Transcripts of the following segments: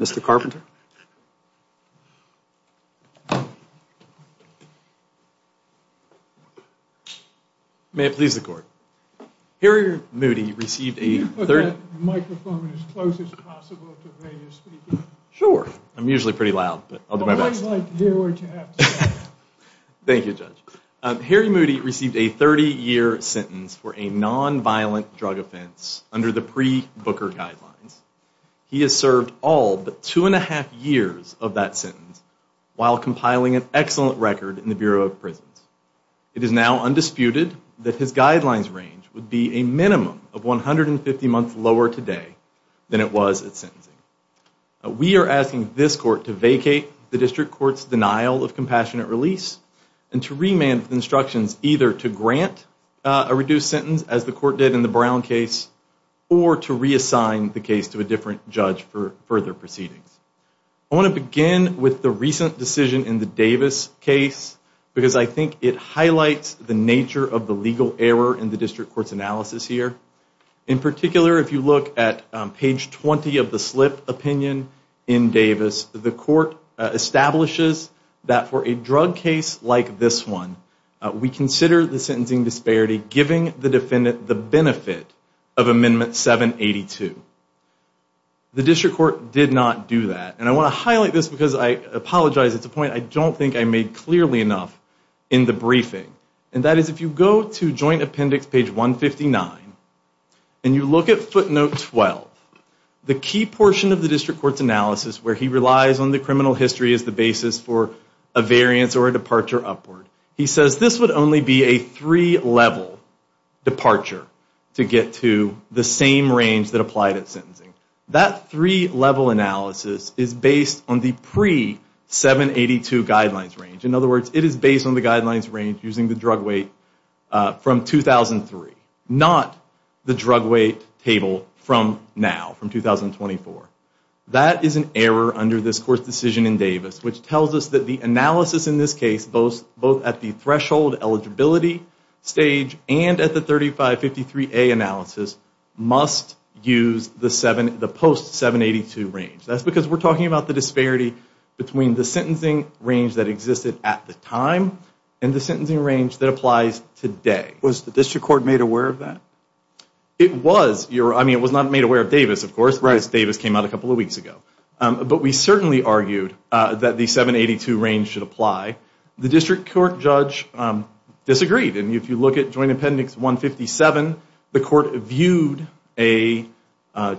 received a 30-year sentence for a non-violent drug offense under the pre-Booker guidelines. He has served all but two and a half years of that sentence while compiling an excellent record in the Bureau of Prisons. It is now undisputed that his guidelines range would be a minimum of 150 months lower today than it was at sentencing. We are asking this Court to vacate the District Court's denial of compassionate release and to remand the instructions either to grant a reduced sentence as the Court did in the case to a different judge for further proceedings. I want to begin with the recent decision in the Davis case because I think it highlights the nature of the legal error in the District Court's analysis here. In particular, if you look at page 20 of the slip opinion in Davis, the Court establishes that for a drug case like this one, we consider the sentencing disparity giving the defendant the benefit of Amendment 782. The District Court did not do that. And I want to highlight this because I apologize, it's a point I don't think I made clearly enough in the briefing. And that is if you go to Joint Appendix page 159 and you look at footnote 12, the key portion of the District Court's analysis where he relies on the criminal history as the basis for a variance or a departure upward. He says this would only be a three-level departure to get to the same range that applied at sentencing. That three-level analysis is based on the pre-782 guidelines range. In other words, it is based on the guidelines range using the drug weight from 2003, not the drug weight table from now, from 2024. That is an error under this Court's decision in Davis, which tells us that the analysis in this case, both at the threshold eligibility stage and at the 3553A analysis, must use the post-782 range. That's because we're talking about the disparity between the sentencing range that existed at the time and the sentencing range that applies today. Was the District Court made aware of that? It was. I mean, it was not made aware of Davis, of course, because Davis came out a couple of weeks ago. But we certainly argued that the 782 range should apply. The District Court judge disagreed, and if you look at Joint Appendix 157, the Court viewed our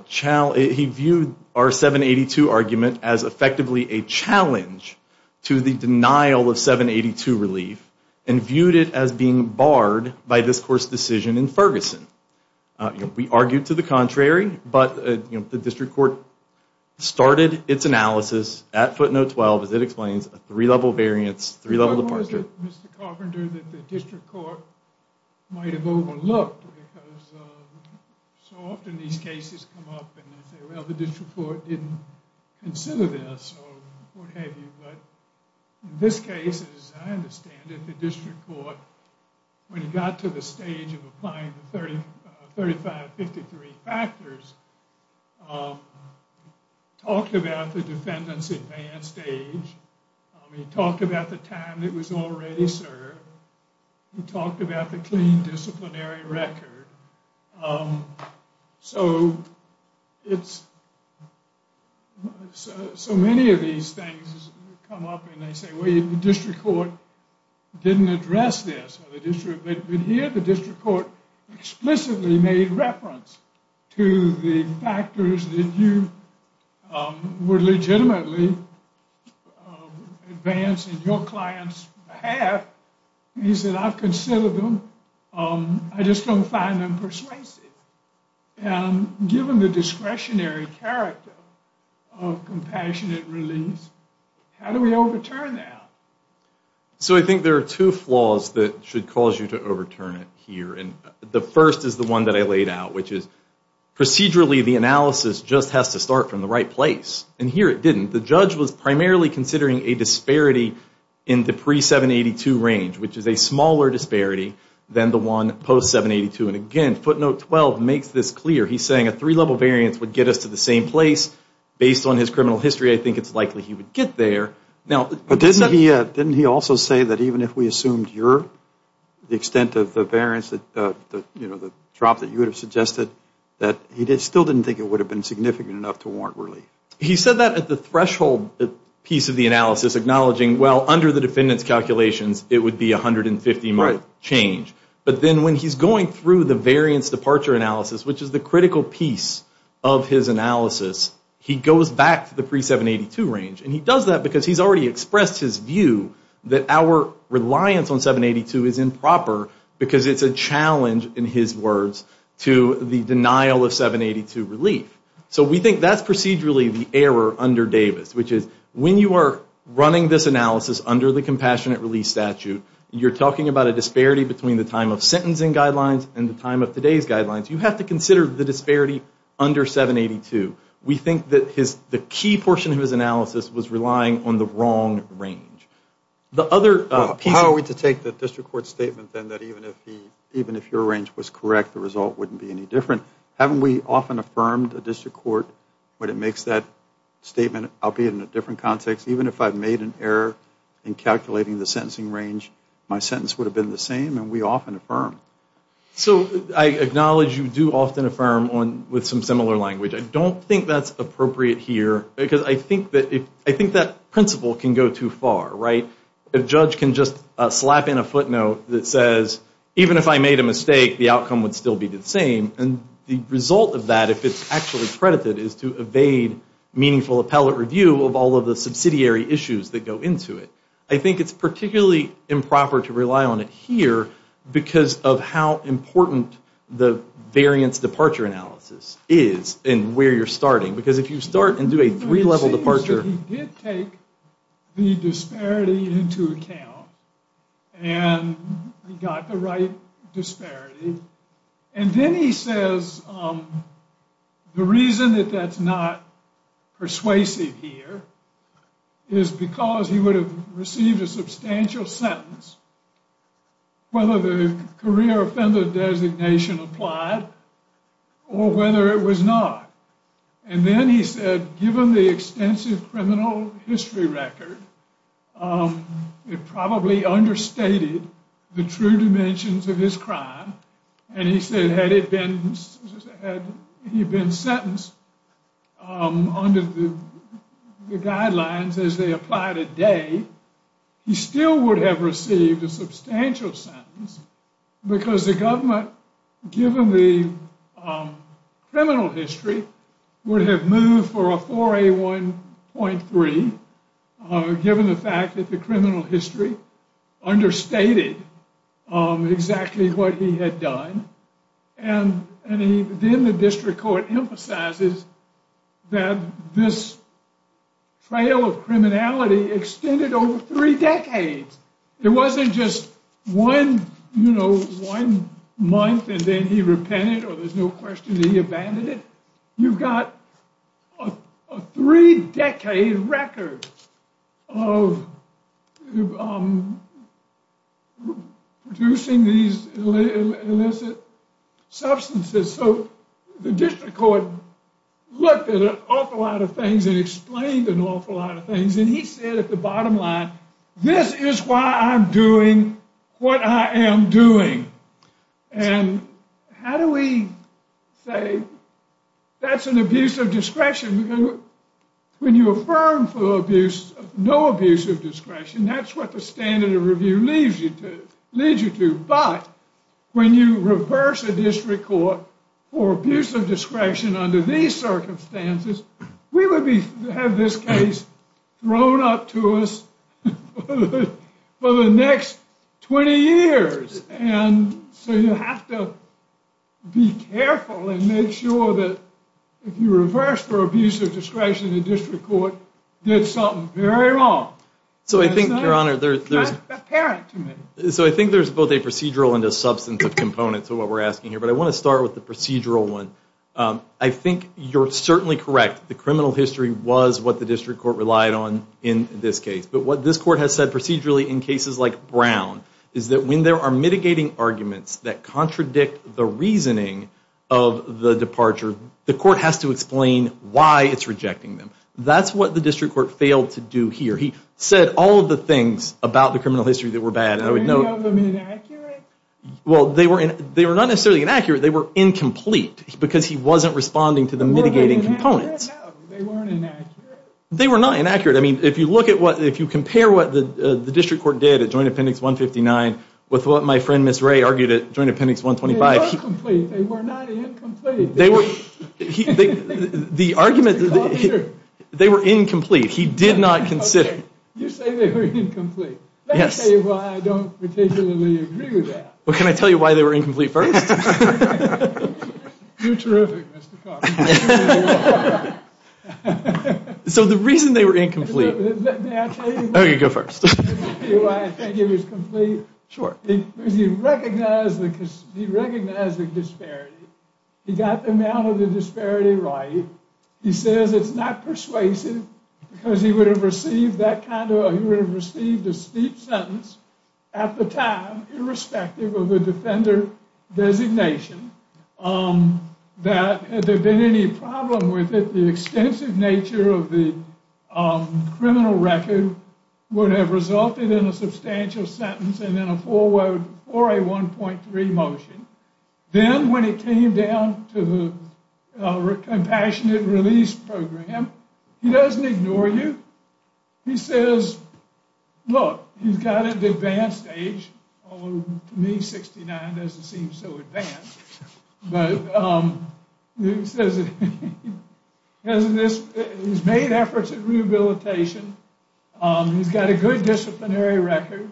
782 argument as effectively a challenge to the denial of 782 relief and viewed it as being barred by this Court's decision in Ferguson. We argued to the contrary, but the District Court started its analysis at footnote 12 as it explains a three-level variance, three-level departure. But was it, Mr. Carpenter, that the District Court might have overlooked? Because so often these cases come up and they say, well, the District Court didn't consider this or what have you. But in this case, as I understand it, the District Court, when it got to the stage of 3553 factors, talked about the defendant's advanced age, he talked about the time it was already served, he talked about the clean disciplinary record. So it's, so many of these things come up and they say, well, the District Court didn't address this. But here, the District Court explicitly made reference to the factors that you would legitimately advance in your client's behalf. He said, I've considered them, I just don't find them persuasive. And given the discretionary character of compassionate release, how do we overturn that? So I think there are two flaws that should cause you to overturn it here. And the first is the one that I laid out, which is procedurally the analysis just has to start from the right place. And here it didn't. The judge was primarily considering a disparity in the pre-782 range, which is a smaller disparity than the one post-782. And again, footnote 12 makes this clear. He's saying a three-level variance would get us to the same place. Based on his criminal history, I think it's likely he would get there. But didn't he also say that even if we assumed the extent of the variance, the drop that you would have suggested, that he still didn't think it would have been significant enough to warrant relief? He said that at the threshold piece of the analysis, acknowledging, well, under the defendant's calculations, it would be 150-month change. But then when he's going through the variance departure analysis, which is the critical piece of his analysis, he goes back to the pre-782 range. And he does that because he's already expressed his view that our reliance on 782 is improper because it's a challenge, in his words, to the denial of 782 relief. So we think that's procedurally the error under Davis, which is when you are running this analysis under the Compassionate Relief Statute, you're talking about a disparity between the time of sentencing guidelines and the time of today's guidelines. You have to consider the disparity under 782. We think that the key portion of his analysis was relying on the wrong range. How are we to take the district court's statement, then, that even if your range was correct, the result wouldn't be any different? Haven't we often affirmed a district court when it makes that statement, albeit in a different context? Even if I've made an error in calculating the sentencing range, my sentence would have been the same, and we often affirm. So I acknowledge you do often affirm with some similar language. I don't think that's appropriate here because I think that principle can go too far, right? A judge can just slap in a footnote that says, even if I made a mistake, the outcome would still be the same. And the result of that, if it's actually credited, is to evade meaningful appellate review of all of the subsidiary issues that go into it. I think it's particularly improper to rely on it here because of how important the variance departure analysis is and where you're starting. Because if you start and do a three-level departure- It seems that he did take the disparity into account, and he got the right disparity. And then he says the reason that that's not persuasive here is because he would have received a substantial sentence whether the career offender designation applied or whether it was not. And then he said, given the extensive criminal history record, it probably understated the true dimensions of his crime. And he said, had he been sentenced under the guidelines as they apply today, he still would have received a substantial sentence because the government, given the criminal history, would have moved for a 4A1.3, given the fact that the criminal history understated exactly what he had done. And then the district court emphasizes that this trail of criminality extended over three decades. It wasn't just one month, and then he repented, or there's no question he abandoned it. You've got a three-decade record of producing these illicit substances. So the district court looked at an awful lot of things and explained an awful lot of things. And he said at the bottom line, this is why I'm doing what I am doing. And how do we say that's an abuse of discretion? When you affirm for no abuse of discretion, that's what the standard of review leads you to. But when you reverse a district court for abuse of discretion under these circumstances, we would have this case thrown up to us for the next 20 years. And so you have to be careful and make sure that if you reverse for abuse of discretion, the district court did something very wrong. So I think, Your Honor, there's both a procedural and a substantive component to what we're asking here. But I want to start with the procedural one. I think you're certainly correct. The criminal history was what the district court relied on in this case. But what this court has said procedurally in cases like Brown is that when there are mitigating arguments that contradict the reasoning of the departure, the court has to explain why it's rejecting them. That's what the district court failed to do here. He said all of the things about the criminal history that were bad. And I would note- Were any of them inaccurate? Well, they were not necessarily inaccurate. They were incomplete. Because he wasn't responding to the mitigating components. They weren't inaccurate? They were not inaccurate. If you compare what the district court did at Joint Appendix 159 with what my friend, Ms. Ray, argued at Joint Appendix 125- They were complete. They were not incomplete. The argument- They were incomplete. He did not consider- Okay. You say they were incomplete. Let's say why I don't particularly agree with that. Well, can I tell you why they were incomplete first? You're terrific, Mr. Cox. So, the reason they were incomplete- May I tell you why- Okay, go first. May I tell you why I think it was complete? Sure. Because he recognized the disparity. He got the amount of the disparity right. He says it's not persuasive because he would have received that kind of- He would have received a steep sentence at the time, irrespective of the defender designation, that had there been any problem with it, the extensive nature of the criminal record would have resulted in a substantial sentence and then a forward 4A1.3 motion. Then, when it came down to the Compassionate Release Program, he doesn't ignore you. He says, look, he's got an advanced age, although to me 69 doesn't seem so advanced, but he says he's made efforts at rehabilitation. He's got a good disciplinary record.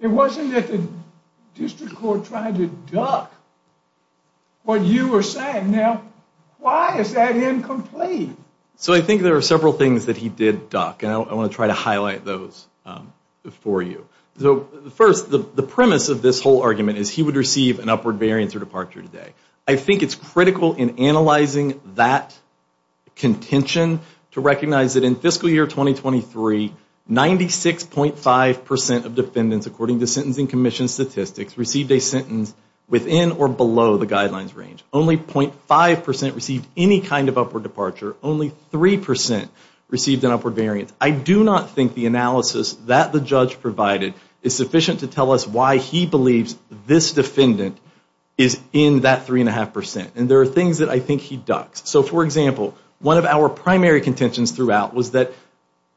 It wasn't that the district court tried to duck what you were saying. Now, why is that incomplete? So, I think there are several things that he did duck, and I want to try to highlight those for you. So, first, the premise of this whole argument is he would receive an upward variance or departure today. I think it's critical in analyzing that contention to recognize that in fiscal year 2023, 96.5% of defendants, according to Sentencing Commission statistics, received a sentence within or below the guidelines range. Only 0.5% received any kind of upward departure. Only 3% received an upward variance. I do not think the analysis that the judge provided is sufficient to tell us why he believes this defendant is in that 3.5%, and there are things that I think he ducks. So, for example, one of our primary contentions throughout was that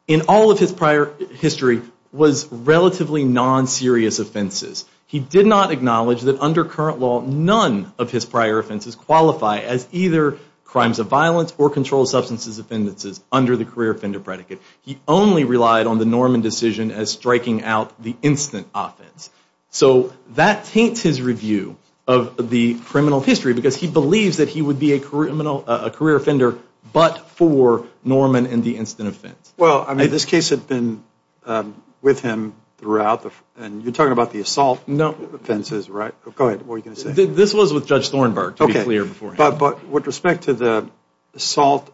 in all of his prior history, was relatively non-serious offenses. He did not acknowledge that under current law, none of his prior offenses qualify as either crimes of violence or controlled substances offences under the career offender predicate. He only relied on the Norman decision as striking out the instant offense. So, that taints his review of the criminal history because he believes that he would be a career offender but for Norman and the instant offense. Well, I mean, this case had been with him throughout, and you're talking about the assault offenses, right? Go ahead, what were you going to say? This was with Judge Thornburg, to be clear beforehand. But with respect to the assault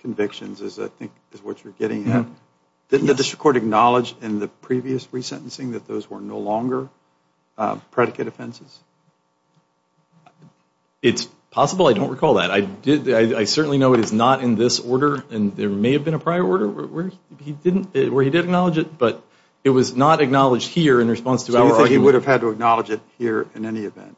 convictions, as I think is what you're getting at, didn't the district court acknowledge in the previous resentencing that those were no longer predicate offenses? It's possible, I don't recall that. I did, I certainly know it is not in this order, and there may have been a prior order where he didn't, where he did acknowledge it, but it was not acknowledged here in response to our... So, you think he would have had to acknowledge it here in any event?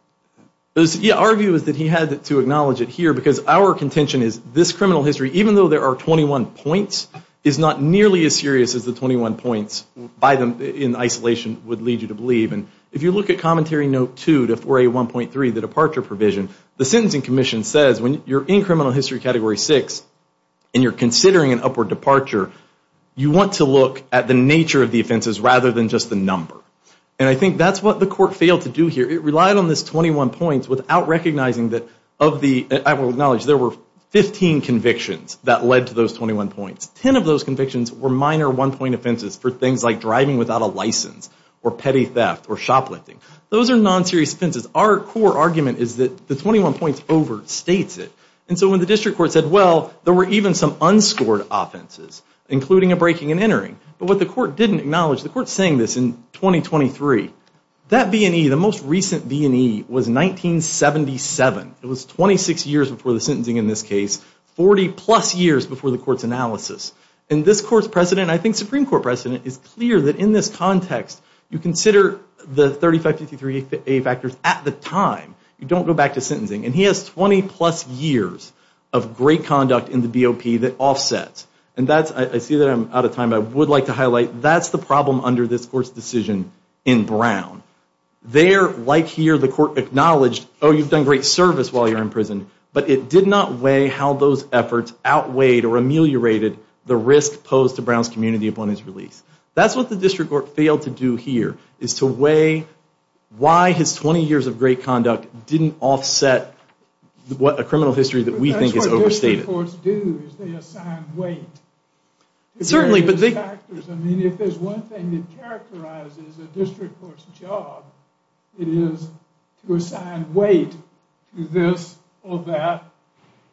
Yeah, our view is that he had to acknowledge it here because our contention is this criminal history, even though there are 21 points, is not nearly as serious as the 21 points by them in isolation would lead you to believe. And if you look at Commentary Note 2 to 4A1.3, the departure provision, the Sentencing Commission says when you're in criminal history Category 6 and you're considering an upward departure, you want to look at the nature of the offenses rather than just the number. And I think that's what the court failed to do here. It relied on this 21 points without recognizing that of the... that led to those 21 points. 10 of those convictions were minor one-point offenses for things like driving without a license, or petty theft, or shoplifting. Those are non-serious offenses. Our core argument is that the 21 points over states it. And so when the district court said, well, there were even some unscored offenses, including a breaking and entering. But what the court didn't acknowledge, the court's saying this in 2023, that V&E, the most recent V&E was 1977. It was 26 years before the sentencing in this case, 40 plus years before the court's analysis. And this court's precedent, I think Supreme Court precedent, is clear that in this context, you consider the 3553A factors at the time. You don't go back to sentencing. And he has 20 plus years of great conduct in the BOP that offsets. And that's, I see that I'm out of time, I would like to highlight, that's the problem under this court's decision in Brown. There, like here, the court acknowledged, oh, you've done great service while you're in prison, but it did not weigh how those efforts outweighed or ameliorated the risk posed to Brown's community upon his release. That's what the district court failed to do here, is to weigh why his 20 years of great conduct didn't offset a criminal history that we think is overstated. But that's what district courts do, is they assign weight. Certainly, but they- If there's one thing that characterizes a district court's job, it is to assign weight to this or that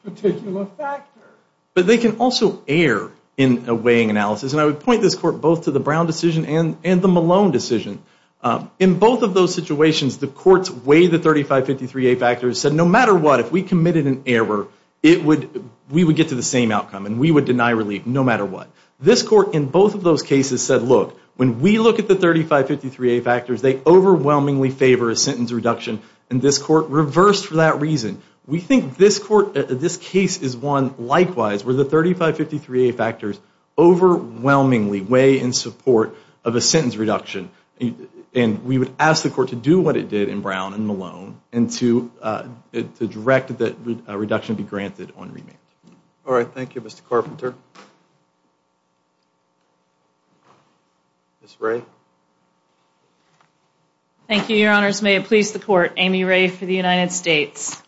particular factor. But they can also err in a weighing analysis. And I would point this court both to the Brown decision and the Malone decision. In both of those situations, the courts weighed the 3553A factors, said no matter what, if we committed an error, it would, we would get to the same outcome and we would deny relief no matter what. This court in both of those cases said, look, when we look at the 3553A factors, they overwhelmingly favor a sentence reduction. And this court reversed for that reason. We think this court, this case is one likewise, where the 3553A factors overwhelmingly weigh in support of a sentence reduction. And we would ask the court to do what it did in Brown and Malone, and to direct that reduction be granted on remand. All right, thank you, Mr. Carpenter. Ms. Ray? Thank you, Your Honors. May it please the court, Amy Ray for the United States.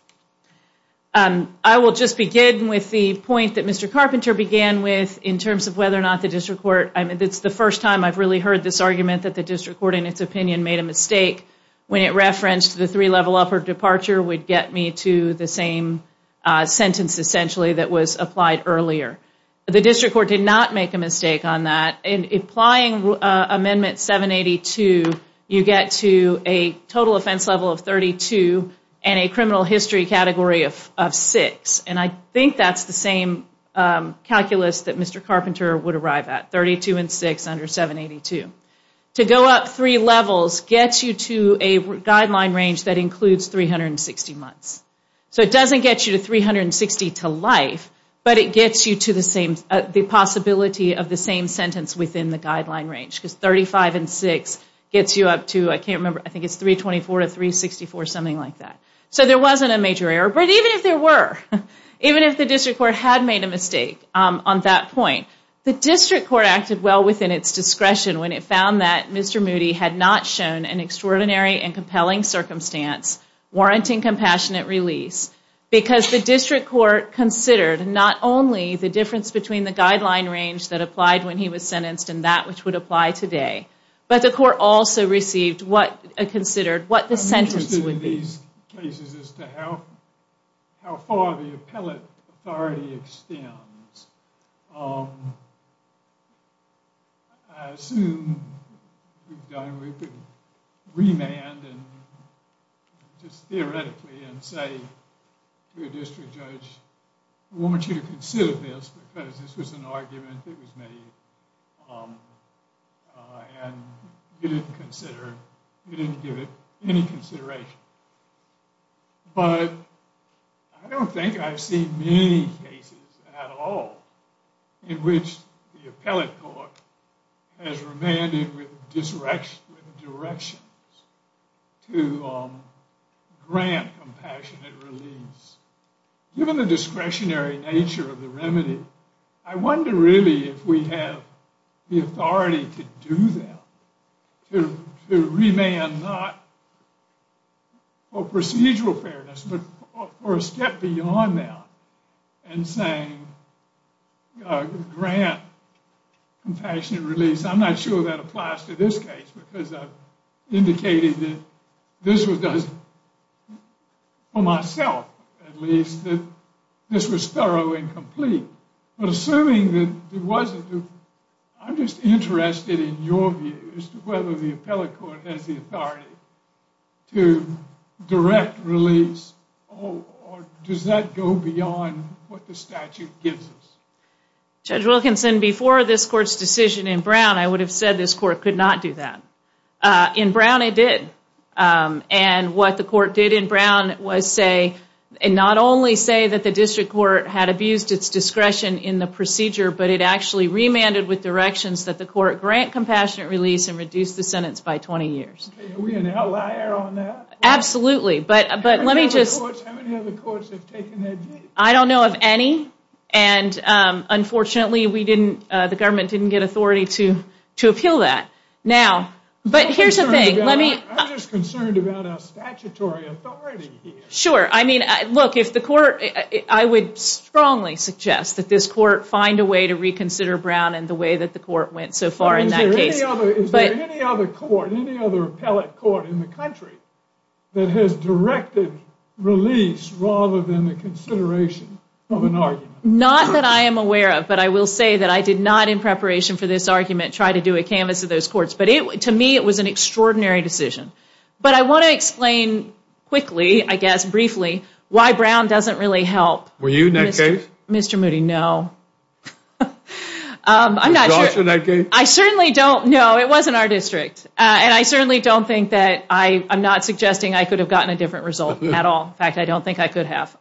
I will just begin with the point that Mr. Carpenter began with in terms of whether or not the district court, I mean, it's the first time I've really heard this argument that the district court in its opinion made a mistake when it referenced the three-level upper departure would get me to the same sentence essentially that was applied earlier. The district court did not make a mistake on that. Applying Amendment 782, you get to a total offense level of 32 and a criminal history category of six. And I think that's the same calculus that Mr. Carpenter would arrive at, 32 and six under 782. To go up three levels gets you to a guideline range that includes 360 months. So it doesn't get you to 360 to life, but it gets you to the possibility of the same sentence within the guideline range because 35 and six gets you up to, I can't remember, I think it's 324 to 364, something like that. So there wasn't a major error, but even if there were, even if the district court had made a mistake on that point, the district court acted well within its discretion when it found that Mr. Moody had not shown an extraordinary and compelling circumstance warranting compassionate release because the district court considered not only the difference between the guideline range that applied when he was sentenced and that which would apply today, but the court also considered what the sentence would be. I'm interested in these cases as to how far the appellate authority extends. I assume we've done, we could remand and just theoretically and say to a district judge, I want you to consider this because this was an argument that was made and you didn't consider, you didn't give it any consideration. But I don't think I've seen many cases at all in which the appellate court has remanded with directions to grant compassionate release. Given the discretionary nature of the remedy, I wonder really if we have the authority to do that, to remand not for procedural fairness, but for a step beyond that and saying grant compassionate release. I'm not sure that applies to this case because I've indicated that this was done for myself at least that this was thorough and complete, but assuming that it wasn't, I'm just interested in your views to whether the appellate court has the authority to direct release or does that go beyond what the statute gives us? Judge Wilkinson, before this court's decision in Brown, I would have said this court could not do that. In Brown, it did. And what the court did in Brown was say, and not only say that the district court had abused its discretion in the procedure, but it actually remanded with directions that the court grant compassionate release and reduce the sentence by 20 years. Okay, are we an outlier on that? Absolutely, but let me just... How many other courts have taken that view? I don't know of any. And unfortunately, the government didn't get authority to appeal that. Now, but here's the thing, let me... I'm just concerned about our statutory authority here. Sure, I mean, look, if the court... I would strongly suggest that this court find a way to reconsider Brown and the way that the court went so far in that case. Is there any other court, any other appellate court in the country that has directed release rather than the consideration of an argument? Not that I am aware of, but I will say that I did not, in preparation for this argument, try to do a canvas of those courts. But to me, it was an extraordinary decision. But I want to explain quickly, I guess, why Brown doesn't really help... Were you in that case? Mr. Moody, no. I'm not sure... Was Josh in that case? I certainly don't know. It wasn't our district. And I certainly don't think that I... I'm not suggesting I could have gotten a different result at all. In fact, I don't think I could have.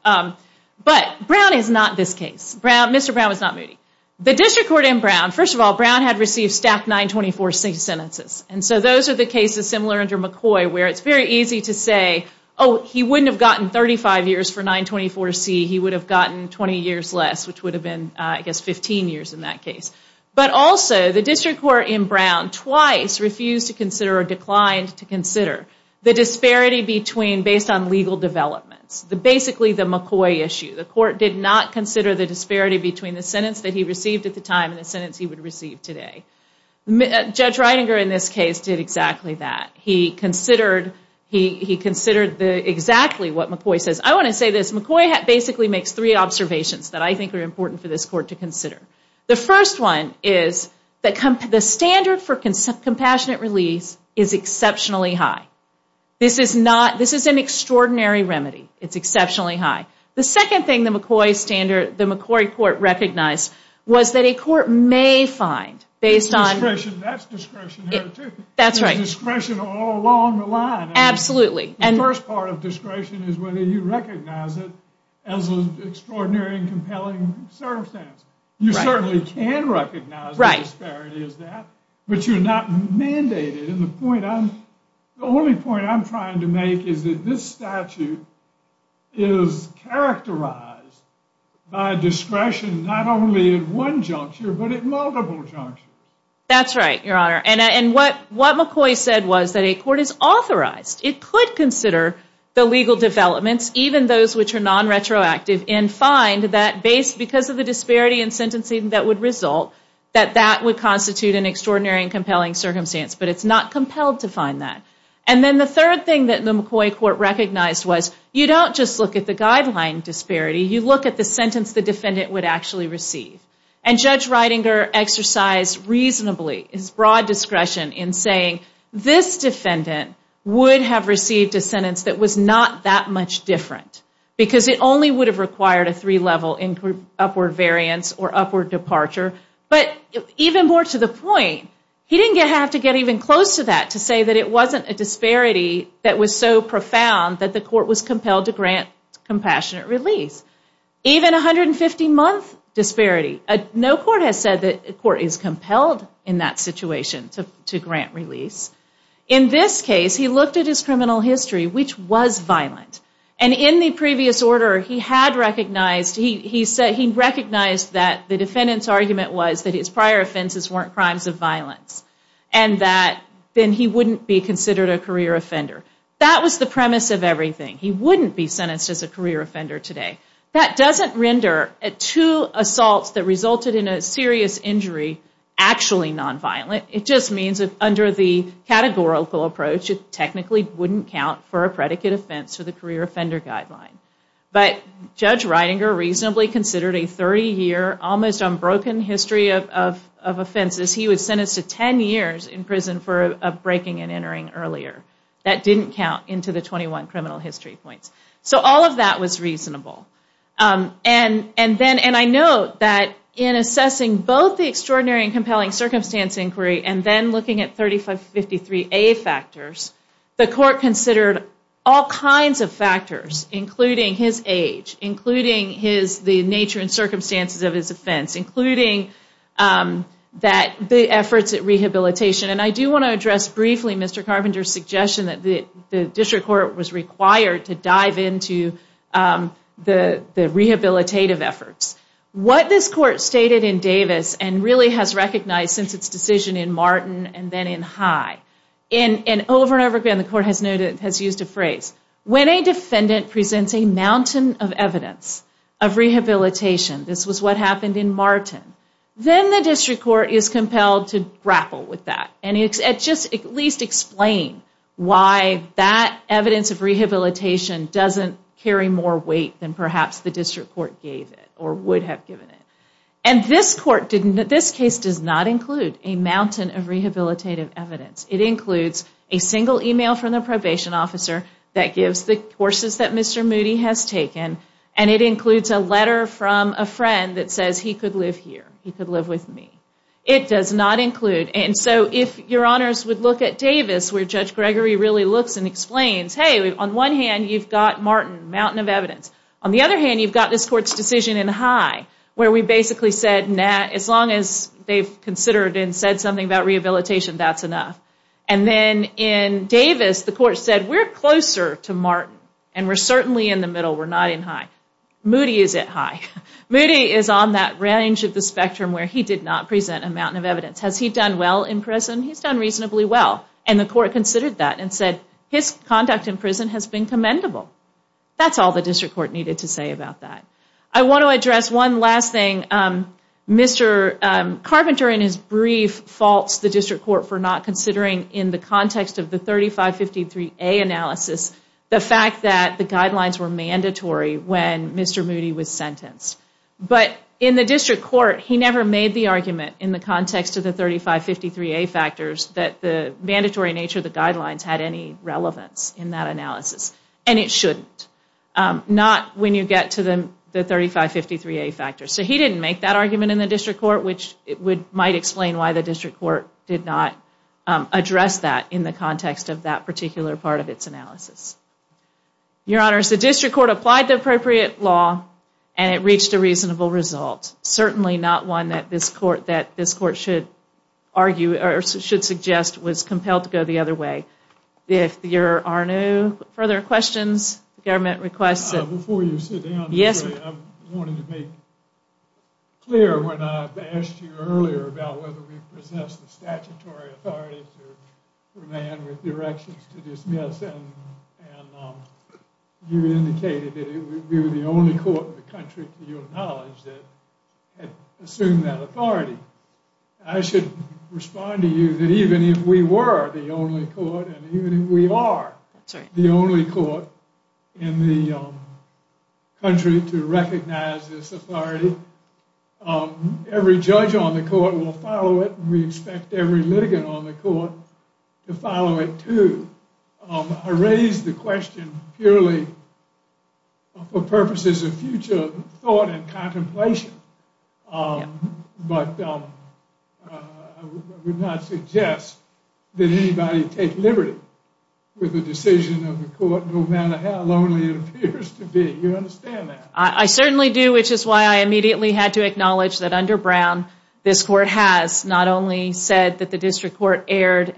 But Brown is not this case. Mr. Brown was not Moody. The district court in Brown, first of all, Brown had received staff 924-6 sentences. And so those are the cases similar under McCoy where it's very easy to say, oh, he wouldn't have gotten 35 years for 924-C. He would have gotten 20 years less, which would have been, I guess, 15 years in that case. But also, the district court in Brown, twice refused to consider or declined to consider the disparity between, based on legal developments, basically the McCoy issue. The court did not consider the disparity between the sentence that he received at the time and the sentence he would receive today. Judge Reininger, in this case, did exactly that. He considered exactly what McCoy says. I want to say this. McCoy basically makes three observations that I think are important for this court to consider. The first one is the standard for compassionate release is exceptionally high. This is an extraordinary remedy. It's exceptionally high. The second thing the McCoy standard, the McCoy court recognized was that a court may find, based on- That's discretionary, too. That's right. Discretion all along the line. Absolutely. The first part of discretion is whether you recognize it as an extraordinary and compelling circumstance. You certainly can recognize the disparity as that, but you're not mandated. And the only point I'm trying to make is that this statute is characterized by discretion not only at one juncture, but at multiple junctures. That's right, Your Honor. And what McCoy said was that a court is authorized. It could consider the legal developments, even those which are non-retroactive, and find that because of the disparity in sentencing that would result, that that would constitute an extraordinary and compelling circumstance. But it's not compelled to find that. And then the third thing that the McCoy court recognized was you don't just look at the guideline disparity. You look at the sentence the defendant would actually receive. And Judge Reidinger exercised reasonably his broad discretion in saying this defendant would have received a sentence that was not that much different. Because it only would have required a three-level upward variance or upward departure. But even more to the point, he didn't have to get even close to that to say that it wasn't a disparity that was so profound that the court was compelled to grant compassionate release. Even 150-month disparity, no court has said that a court is compelled in that situation to grant release. In this case, he looked at his criminal history, which was violent. And in the previous order, he had recognized, he said he recognized that the defendant's argument was that his prior offenses weren't crimes of violence. And that then he wouldn't be considered a career offender. That was the premise of everything. He wouldn't be sentenced as a career offender today. That doesn't render two assaults that resulted in a serious injury actually nonviolent. It just means that under the categorical approach, it technically wouldn't count for a predicate offense for the career offender guideline. But Judge Reidinger reasonably considered a 30-year, almost unbroken history of offenses. He was sentenced to 10 years in prison for breaking and entering earlier. That didn't count into the 21 criminal history points. So all of that was reasonable. And I note that in assessing both the extraordinary and compelling circumstance inquiry, and then looking at 3553A factors, the court considered all kinds of factors, including his age, including the nature and circumstances of his offense, including the efforts at rehabilitation. And I do want to address briefly Mr. Carpenter's suggestion that the district court was required to dive into the rehabilitative efforts. What this court stated in Davis, and really has recognized since its decision in Martin and then in High, and over and over again, the court has used a phrase, when a defendant presents a mountain of evidence of rehabilitation, this was what happened in Martin, then the district court is compelled to grapple with that. And just at least explain why that evidence of rehabilitation doesn't carry more weight than perhaps the district court gave it, or would have given it. And this court, this case does not include a mountain of rehabilitative evidence. It includes a single email from the probation officer that gives the courses that Mr. Moody has taken, and it includes a letter from a friend that says he could live here, he could live with me. It does not include. And so if your honors would look at Davis, where Judge Gregory really looks and explains, on one hand you've got Martin, mountain of evidence. On the other hand, you've got this court's decision in High, where we basically said, nah, as long as they've considered and said something about rehabilitation, that's enough. And then in Davis, the court said, we're closer to Martin, and we're certainly in the middle, we're not in High. Moody is at High. Moody is on that range of the spectrum where he did not present a mountain of evidence. Has he done well in prison? He's done reasonably well. And the court considered that and said, his conduct in prison has been commendable. That's all the district court needed to say about that. I want to address one last thing. Mr. Carpenter, in his brief, faults the district court for not considering, in the context of the 3553A analysis, the fact that the guidelines were mandatory when Mr. Moody was sentenced. But in the district court, he never made the argument in the context of the 3553A factors that the mandatory nature of the guidelines had any relevance in that analysis. And it shouldn't. Not when you get to the 3553A factors. So he didn't make that argument in the district court, which might explain why the district court did not address that in the context of that particular part of its analysis. Your Honors, the district court applied the appropriate law and it reached a reasonable result. Certainly not one that this court should argue, or should suggest, was compelled to go the other way. If there are no further questions, the government requests that... Before you sit down, I wanted to make clear when I asked you earlier about whether we possess the statutory authority to demand with directions to dismiss. And you indicated that we were the only court in the country, to your knowledge, that had assumed that authority. I should respond to you that even if we were the only court, and even if we are the only court in the country to recognize this authority, every judge on the court will follow it. We expect every litigant on the court to follow it too. I raise the question purely for purposes of future thought and contemplation. But I would not suggest that anybody take liberty with a decision of the court, no matter how lonely it appears to be. You understand that? I certainly do, which is why I immediately had to acknowledge that under Brown, this court has not only said that the district court erred,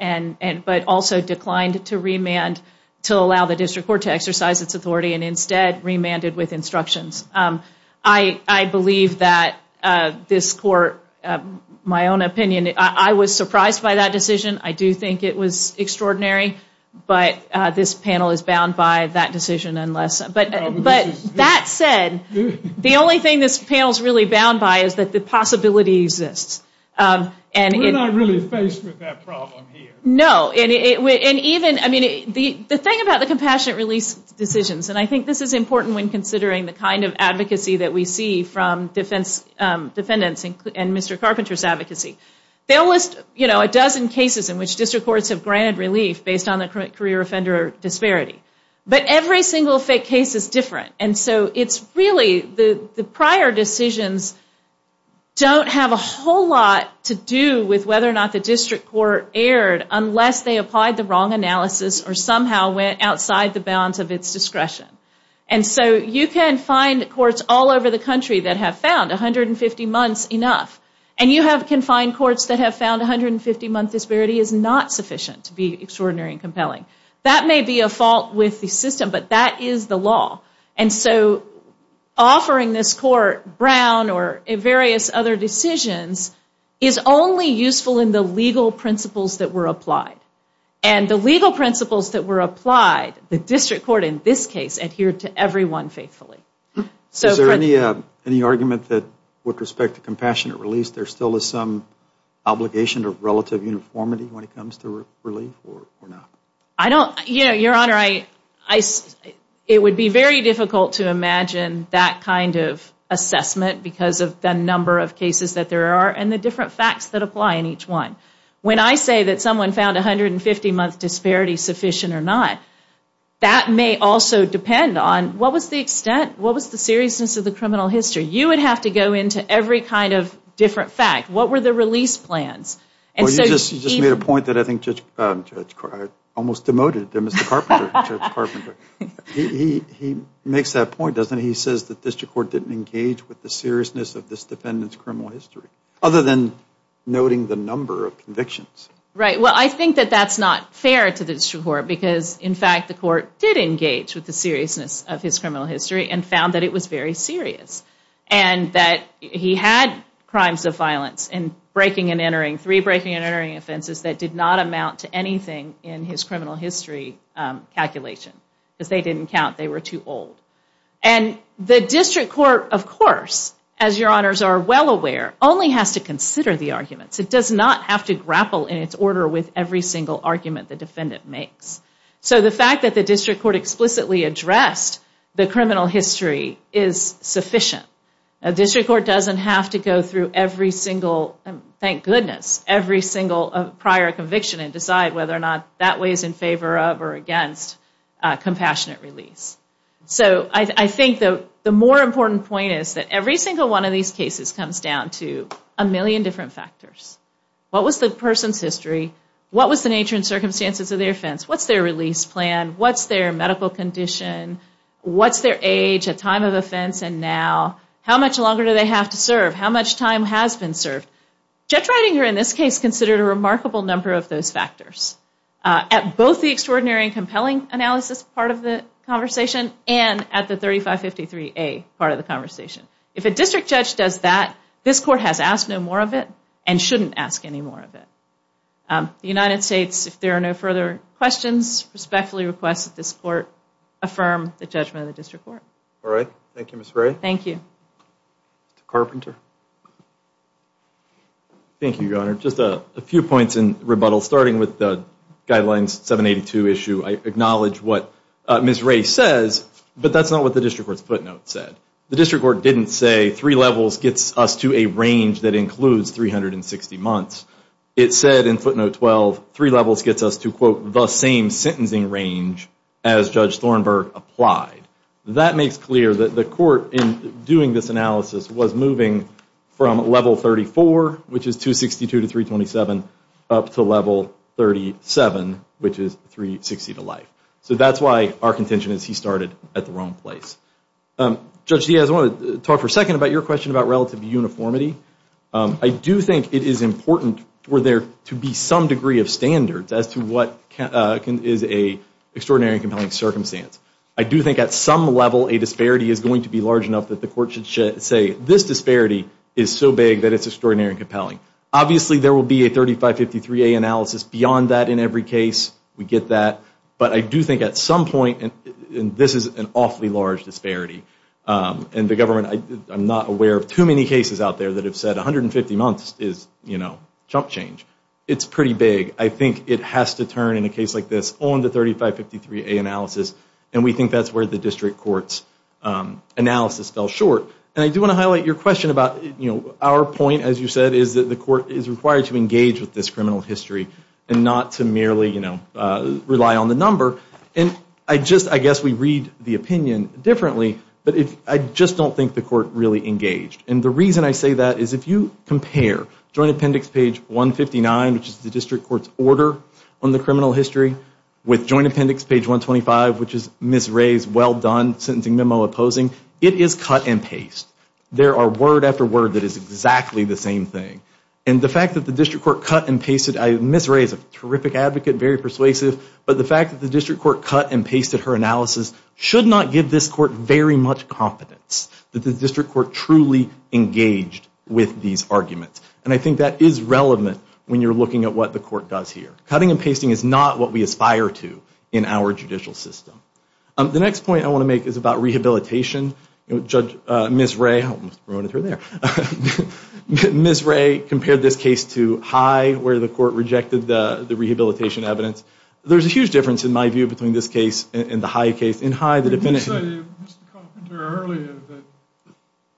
but also declined to remand, to allow the district court to exercise its authority, and instead remanded with instructions. I believe that this court, my own opinion, I was surprised by that decision. I do think it was extraordinary. But this panel is bound by that decision. But that said, the only thing this panel's really bound by is that the possibility exists. We're not really faced with that problem here. No. The thing about the compassionate release decisions, and I think this is important when considering the kind of advocacy that we see from defendants and Mr. Carpenter's advocacy. They'll list a dozen cases in which district courts have granted relief based on the career offender disparity. But every single fake case is different. And so it's really the prior decisions don't have a whole lot to do with whether or not the district court erred unless they applied the wrong analysis or somehow went outside the bounds of its discretion. And so you can find courts all over the country that have found 150 months enough. And you can find courts that have found 150-month disparity is not sufficient to be extraordinary and compelling. That may be a fault with the system, but that is the law. And so offering this court Brown or various other decisions is only useful in the legal principles that were applied. And the legal principles that were applied, the district court in this case adhered to every one faithfully. Is there any argument that with respect to compassionate release, there still is some obligation to relative uniformity when it comes to relief or not? I don't, you know, Your Honor, it would be very difficult to imagine that kind of assessment because of the number of cases that there are and the different facts that apply in each one. When I say that someone found 150-month disparity sufficient or not, that may also depend on what was the extent, what was the seriousness of the criminal history? You would have to go into every kind of different fact. What were the release plans? Well, you just made a point that I think Judge Carpenter, almost demoted to Mr. Carpenter, Judge Carpenter. He makes that point, doesn't he? He says that district court didn't engage with the seriousness of this defendant's criminal history other than noting the number of convictions. Right, well, I think that that's not fair to the district court because, in fact, the court did engage with the seriousness of his criminal history and found that it was very serious and that he had crimes of violence and breaking and entering, three breaking and entering offenses that did not amount to anything in his criminal history calculation because they didn't count, they were too old. And the district court, of course, as Your Honors are well aware, only has to consider the arguments. It does not have to grapple in its order with every single argument the defendant makes. So the fact that the district court explicitly addressed the criminal history is sufficient. District court doesn't have to go through every single, thank goodness, every single prior conviction and decide whether or not that way is in favor of or against compassionate release. So I think the more important point is that every single one of these cases comes down to a million different factors. What was the person's history? What was the nature and circumstances of their offense? What's their release plan? What's their medical condition? What's their age, a time of offense, and now? How much longer do they have to serve? How much time has been served? Judge Ridinger, in this case, considered a remarkable number of those factors at both the extraordinary and compelling analysis part of the conversation and at the 3553A part of the conversation. If a district judge does that, this court has asked no more of it and shouldn't ask any more of it. The United States, if there are no further questions, respectfully request that this court affirm the judgment of the district court. All right. Thank you, Ms. Ray. Thank you. Mr. Carpenter. Thank you, Your Honor. Just a few points in rebuttal, starting with the Guidelines 782 issue. I acknowledge what Ms. Ray says, but that's not what the district court's footnote said. The district court didn't say three levels gets us to a range that includes 360 months. It said in footnote 12, three levels gets us to, quote, the same sentencing range as Judge Thornburgh applied. That makes clear that the court in doing this analysis was moving from level 34, which is 262 to 327, up to level 37, which is 360 to life. So that's why our contention is he started at the wrong place. Judge Diaz, I want to talk for a second about your question about relative uniformity. I do think it is important for there to be some degree of standards as to what is an extraordinary and compelling circumstance. I do think at some level, a disparity is going to be large enough that the court should say, this disparity is so big that it's extraordinary and compelling. Obviously, there will be a 3553A analysis beyond that in every case. We get that. But I do think at some point, and this is an awfully large disparity, and the government, I'm not aware of too many cases out there that have said 150 months is, you know, jump change. It's pretty big. I think it has to turn in a case like this on the 3553A analysis, and we think that's where the district court's analysis fell short. And I do want to highlight your question about, you know, our point, as you said, is that the court is required to engage with this criminal history and not to merely, you know, rely on the number. And I just, I guess we read the opinion differently, but I just don't think the court really engaged. And the reason I say that is if you compare Joint Appendix page 159, which is the district court's order on the criminal history, with Joint Appendix page 125, which is Ms. Ray's well-done sentencing memo opposing, it is cut and paste. There are word after word that is exactly the same thing. And the fact that the district court cut and pasted, Ms. Ray is a terrific advocate, very persuasive, but the fact that the district court cut and pasted her analysis should not give this court very much confidence that the district court truly engaged with these arguments. And I think that is relevant when you're looking at what the court does here. Cutting and pasting is not what we aspire to in our judicial system. The next point I want to make is about rehabilitation. Judge, Ms. Ray, I almost ruined her there. Ms. Ray compared this case to High, where the court rejected the rehabilitation evidence. There's a huge difference, in my view, between this case and the High case. In High, the defendant... You said, Mr. Carpenter, earlier that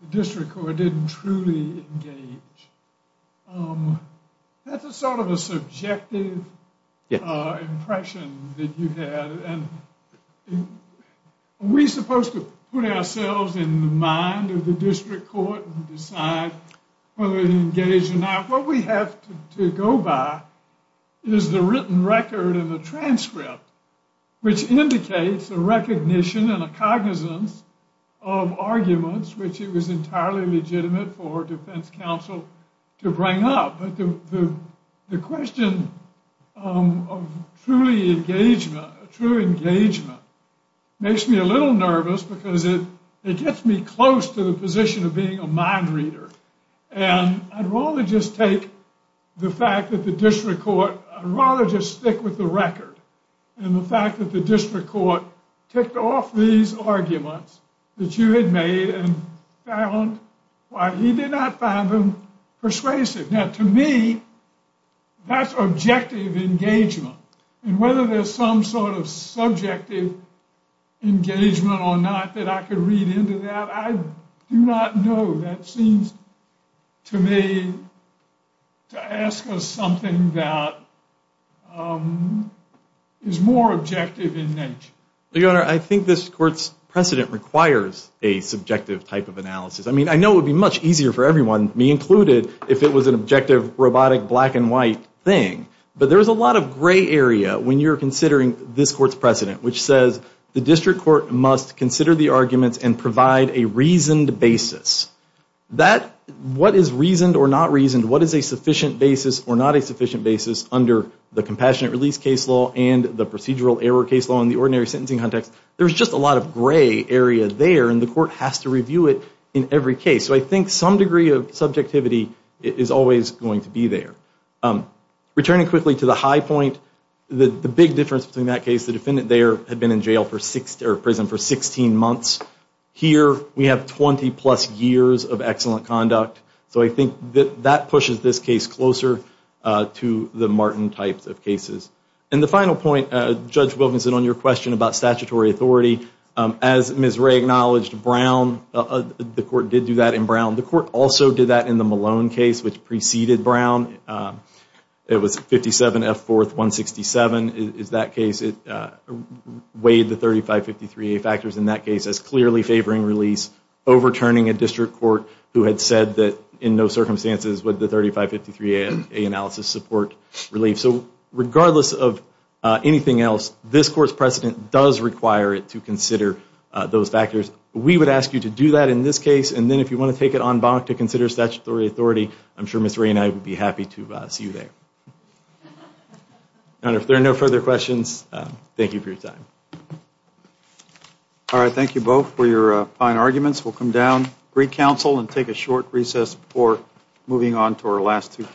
the district court didn't truly engage. That's a sort of a subjective impression that you had. And are we supposed to put ourselves in the mind of the district court and decide whether they engaged or not? What we have to go by is the written record and the transcript, which indicates a recognition and a cognizance of arguments which it was entirely legitimate for defense counsel to bring up. But the question of truly engagement makes me a little nervous because it gets me close to the position of being a mind reader. And I'd rather just take the fact that the district court... I'd rather just stick with the record. And the fact that the district court ticked off these arguments that you had made and found why he did not find them persuasive. Now, to me, that's objective engagement. And whether there's some sort of subjective engagement or not that I could read into that, I do not know. That seems to me to ask us something that is more objective in nature. Your Honor, I think this court's precedent requires a subjective type of analysis. I mean, I know it would be much easier for everyone, me included, if it was an objective, robotic, black and white thing. But there is a lot of gray area when you're considering this court's precedent, which says the district court must consider the arguments and provide a reasoned basis. What is reasoned or not reasoned? What is a sufficient basis or not a sufficient basis under the compassionate release case law and the procedural error case law in the ordinary sentencing context? There's just a lot of gray area there, and the court has to review it in every case. So I think some degree of subjectivity is always going to be there. Returning quickly to the high point, the big difference between that case, the defendant there had been in prison for 16 months. Here, we have 20 plus years of excellent conduct. So I think that pushes this case closer to the Martin types of cases. And the final point, Judge Wilkinson, on your question about statutory authority, as Ms. Wray acknowledged, the court did do that in Brown. The court also did that in the Malone case, which preceded Brown. It was 57 F. 4th, 167 is that case. It weighed the 3553A factors in that case as clearly favoring release, overturning a district court who had said that in no circumstances would the 3553A analysis support relief. So regardless of anything else, this court's precedent does require it to consider those factors. We would ask you to do that in this case. And then if you want to take it en banc to consider statutory authority, I'm sure Ms. Wray and I would be happy to see you there. And if there are no further questions, thank you for your time. All right, thank you both for your fine arguments. We'll come down, recounsel, and take a short recess before moving on to our last two cases.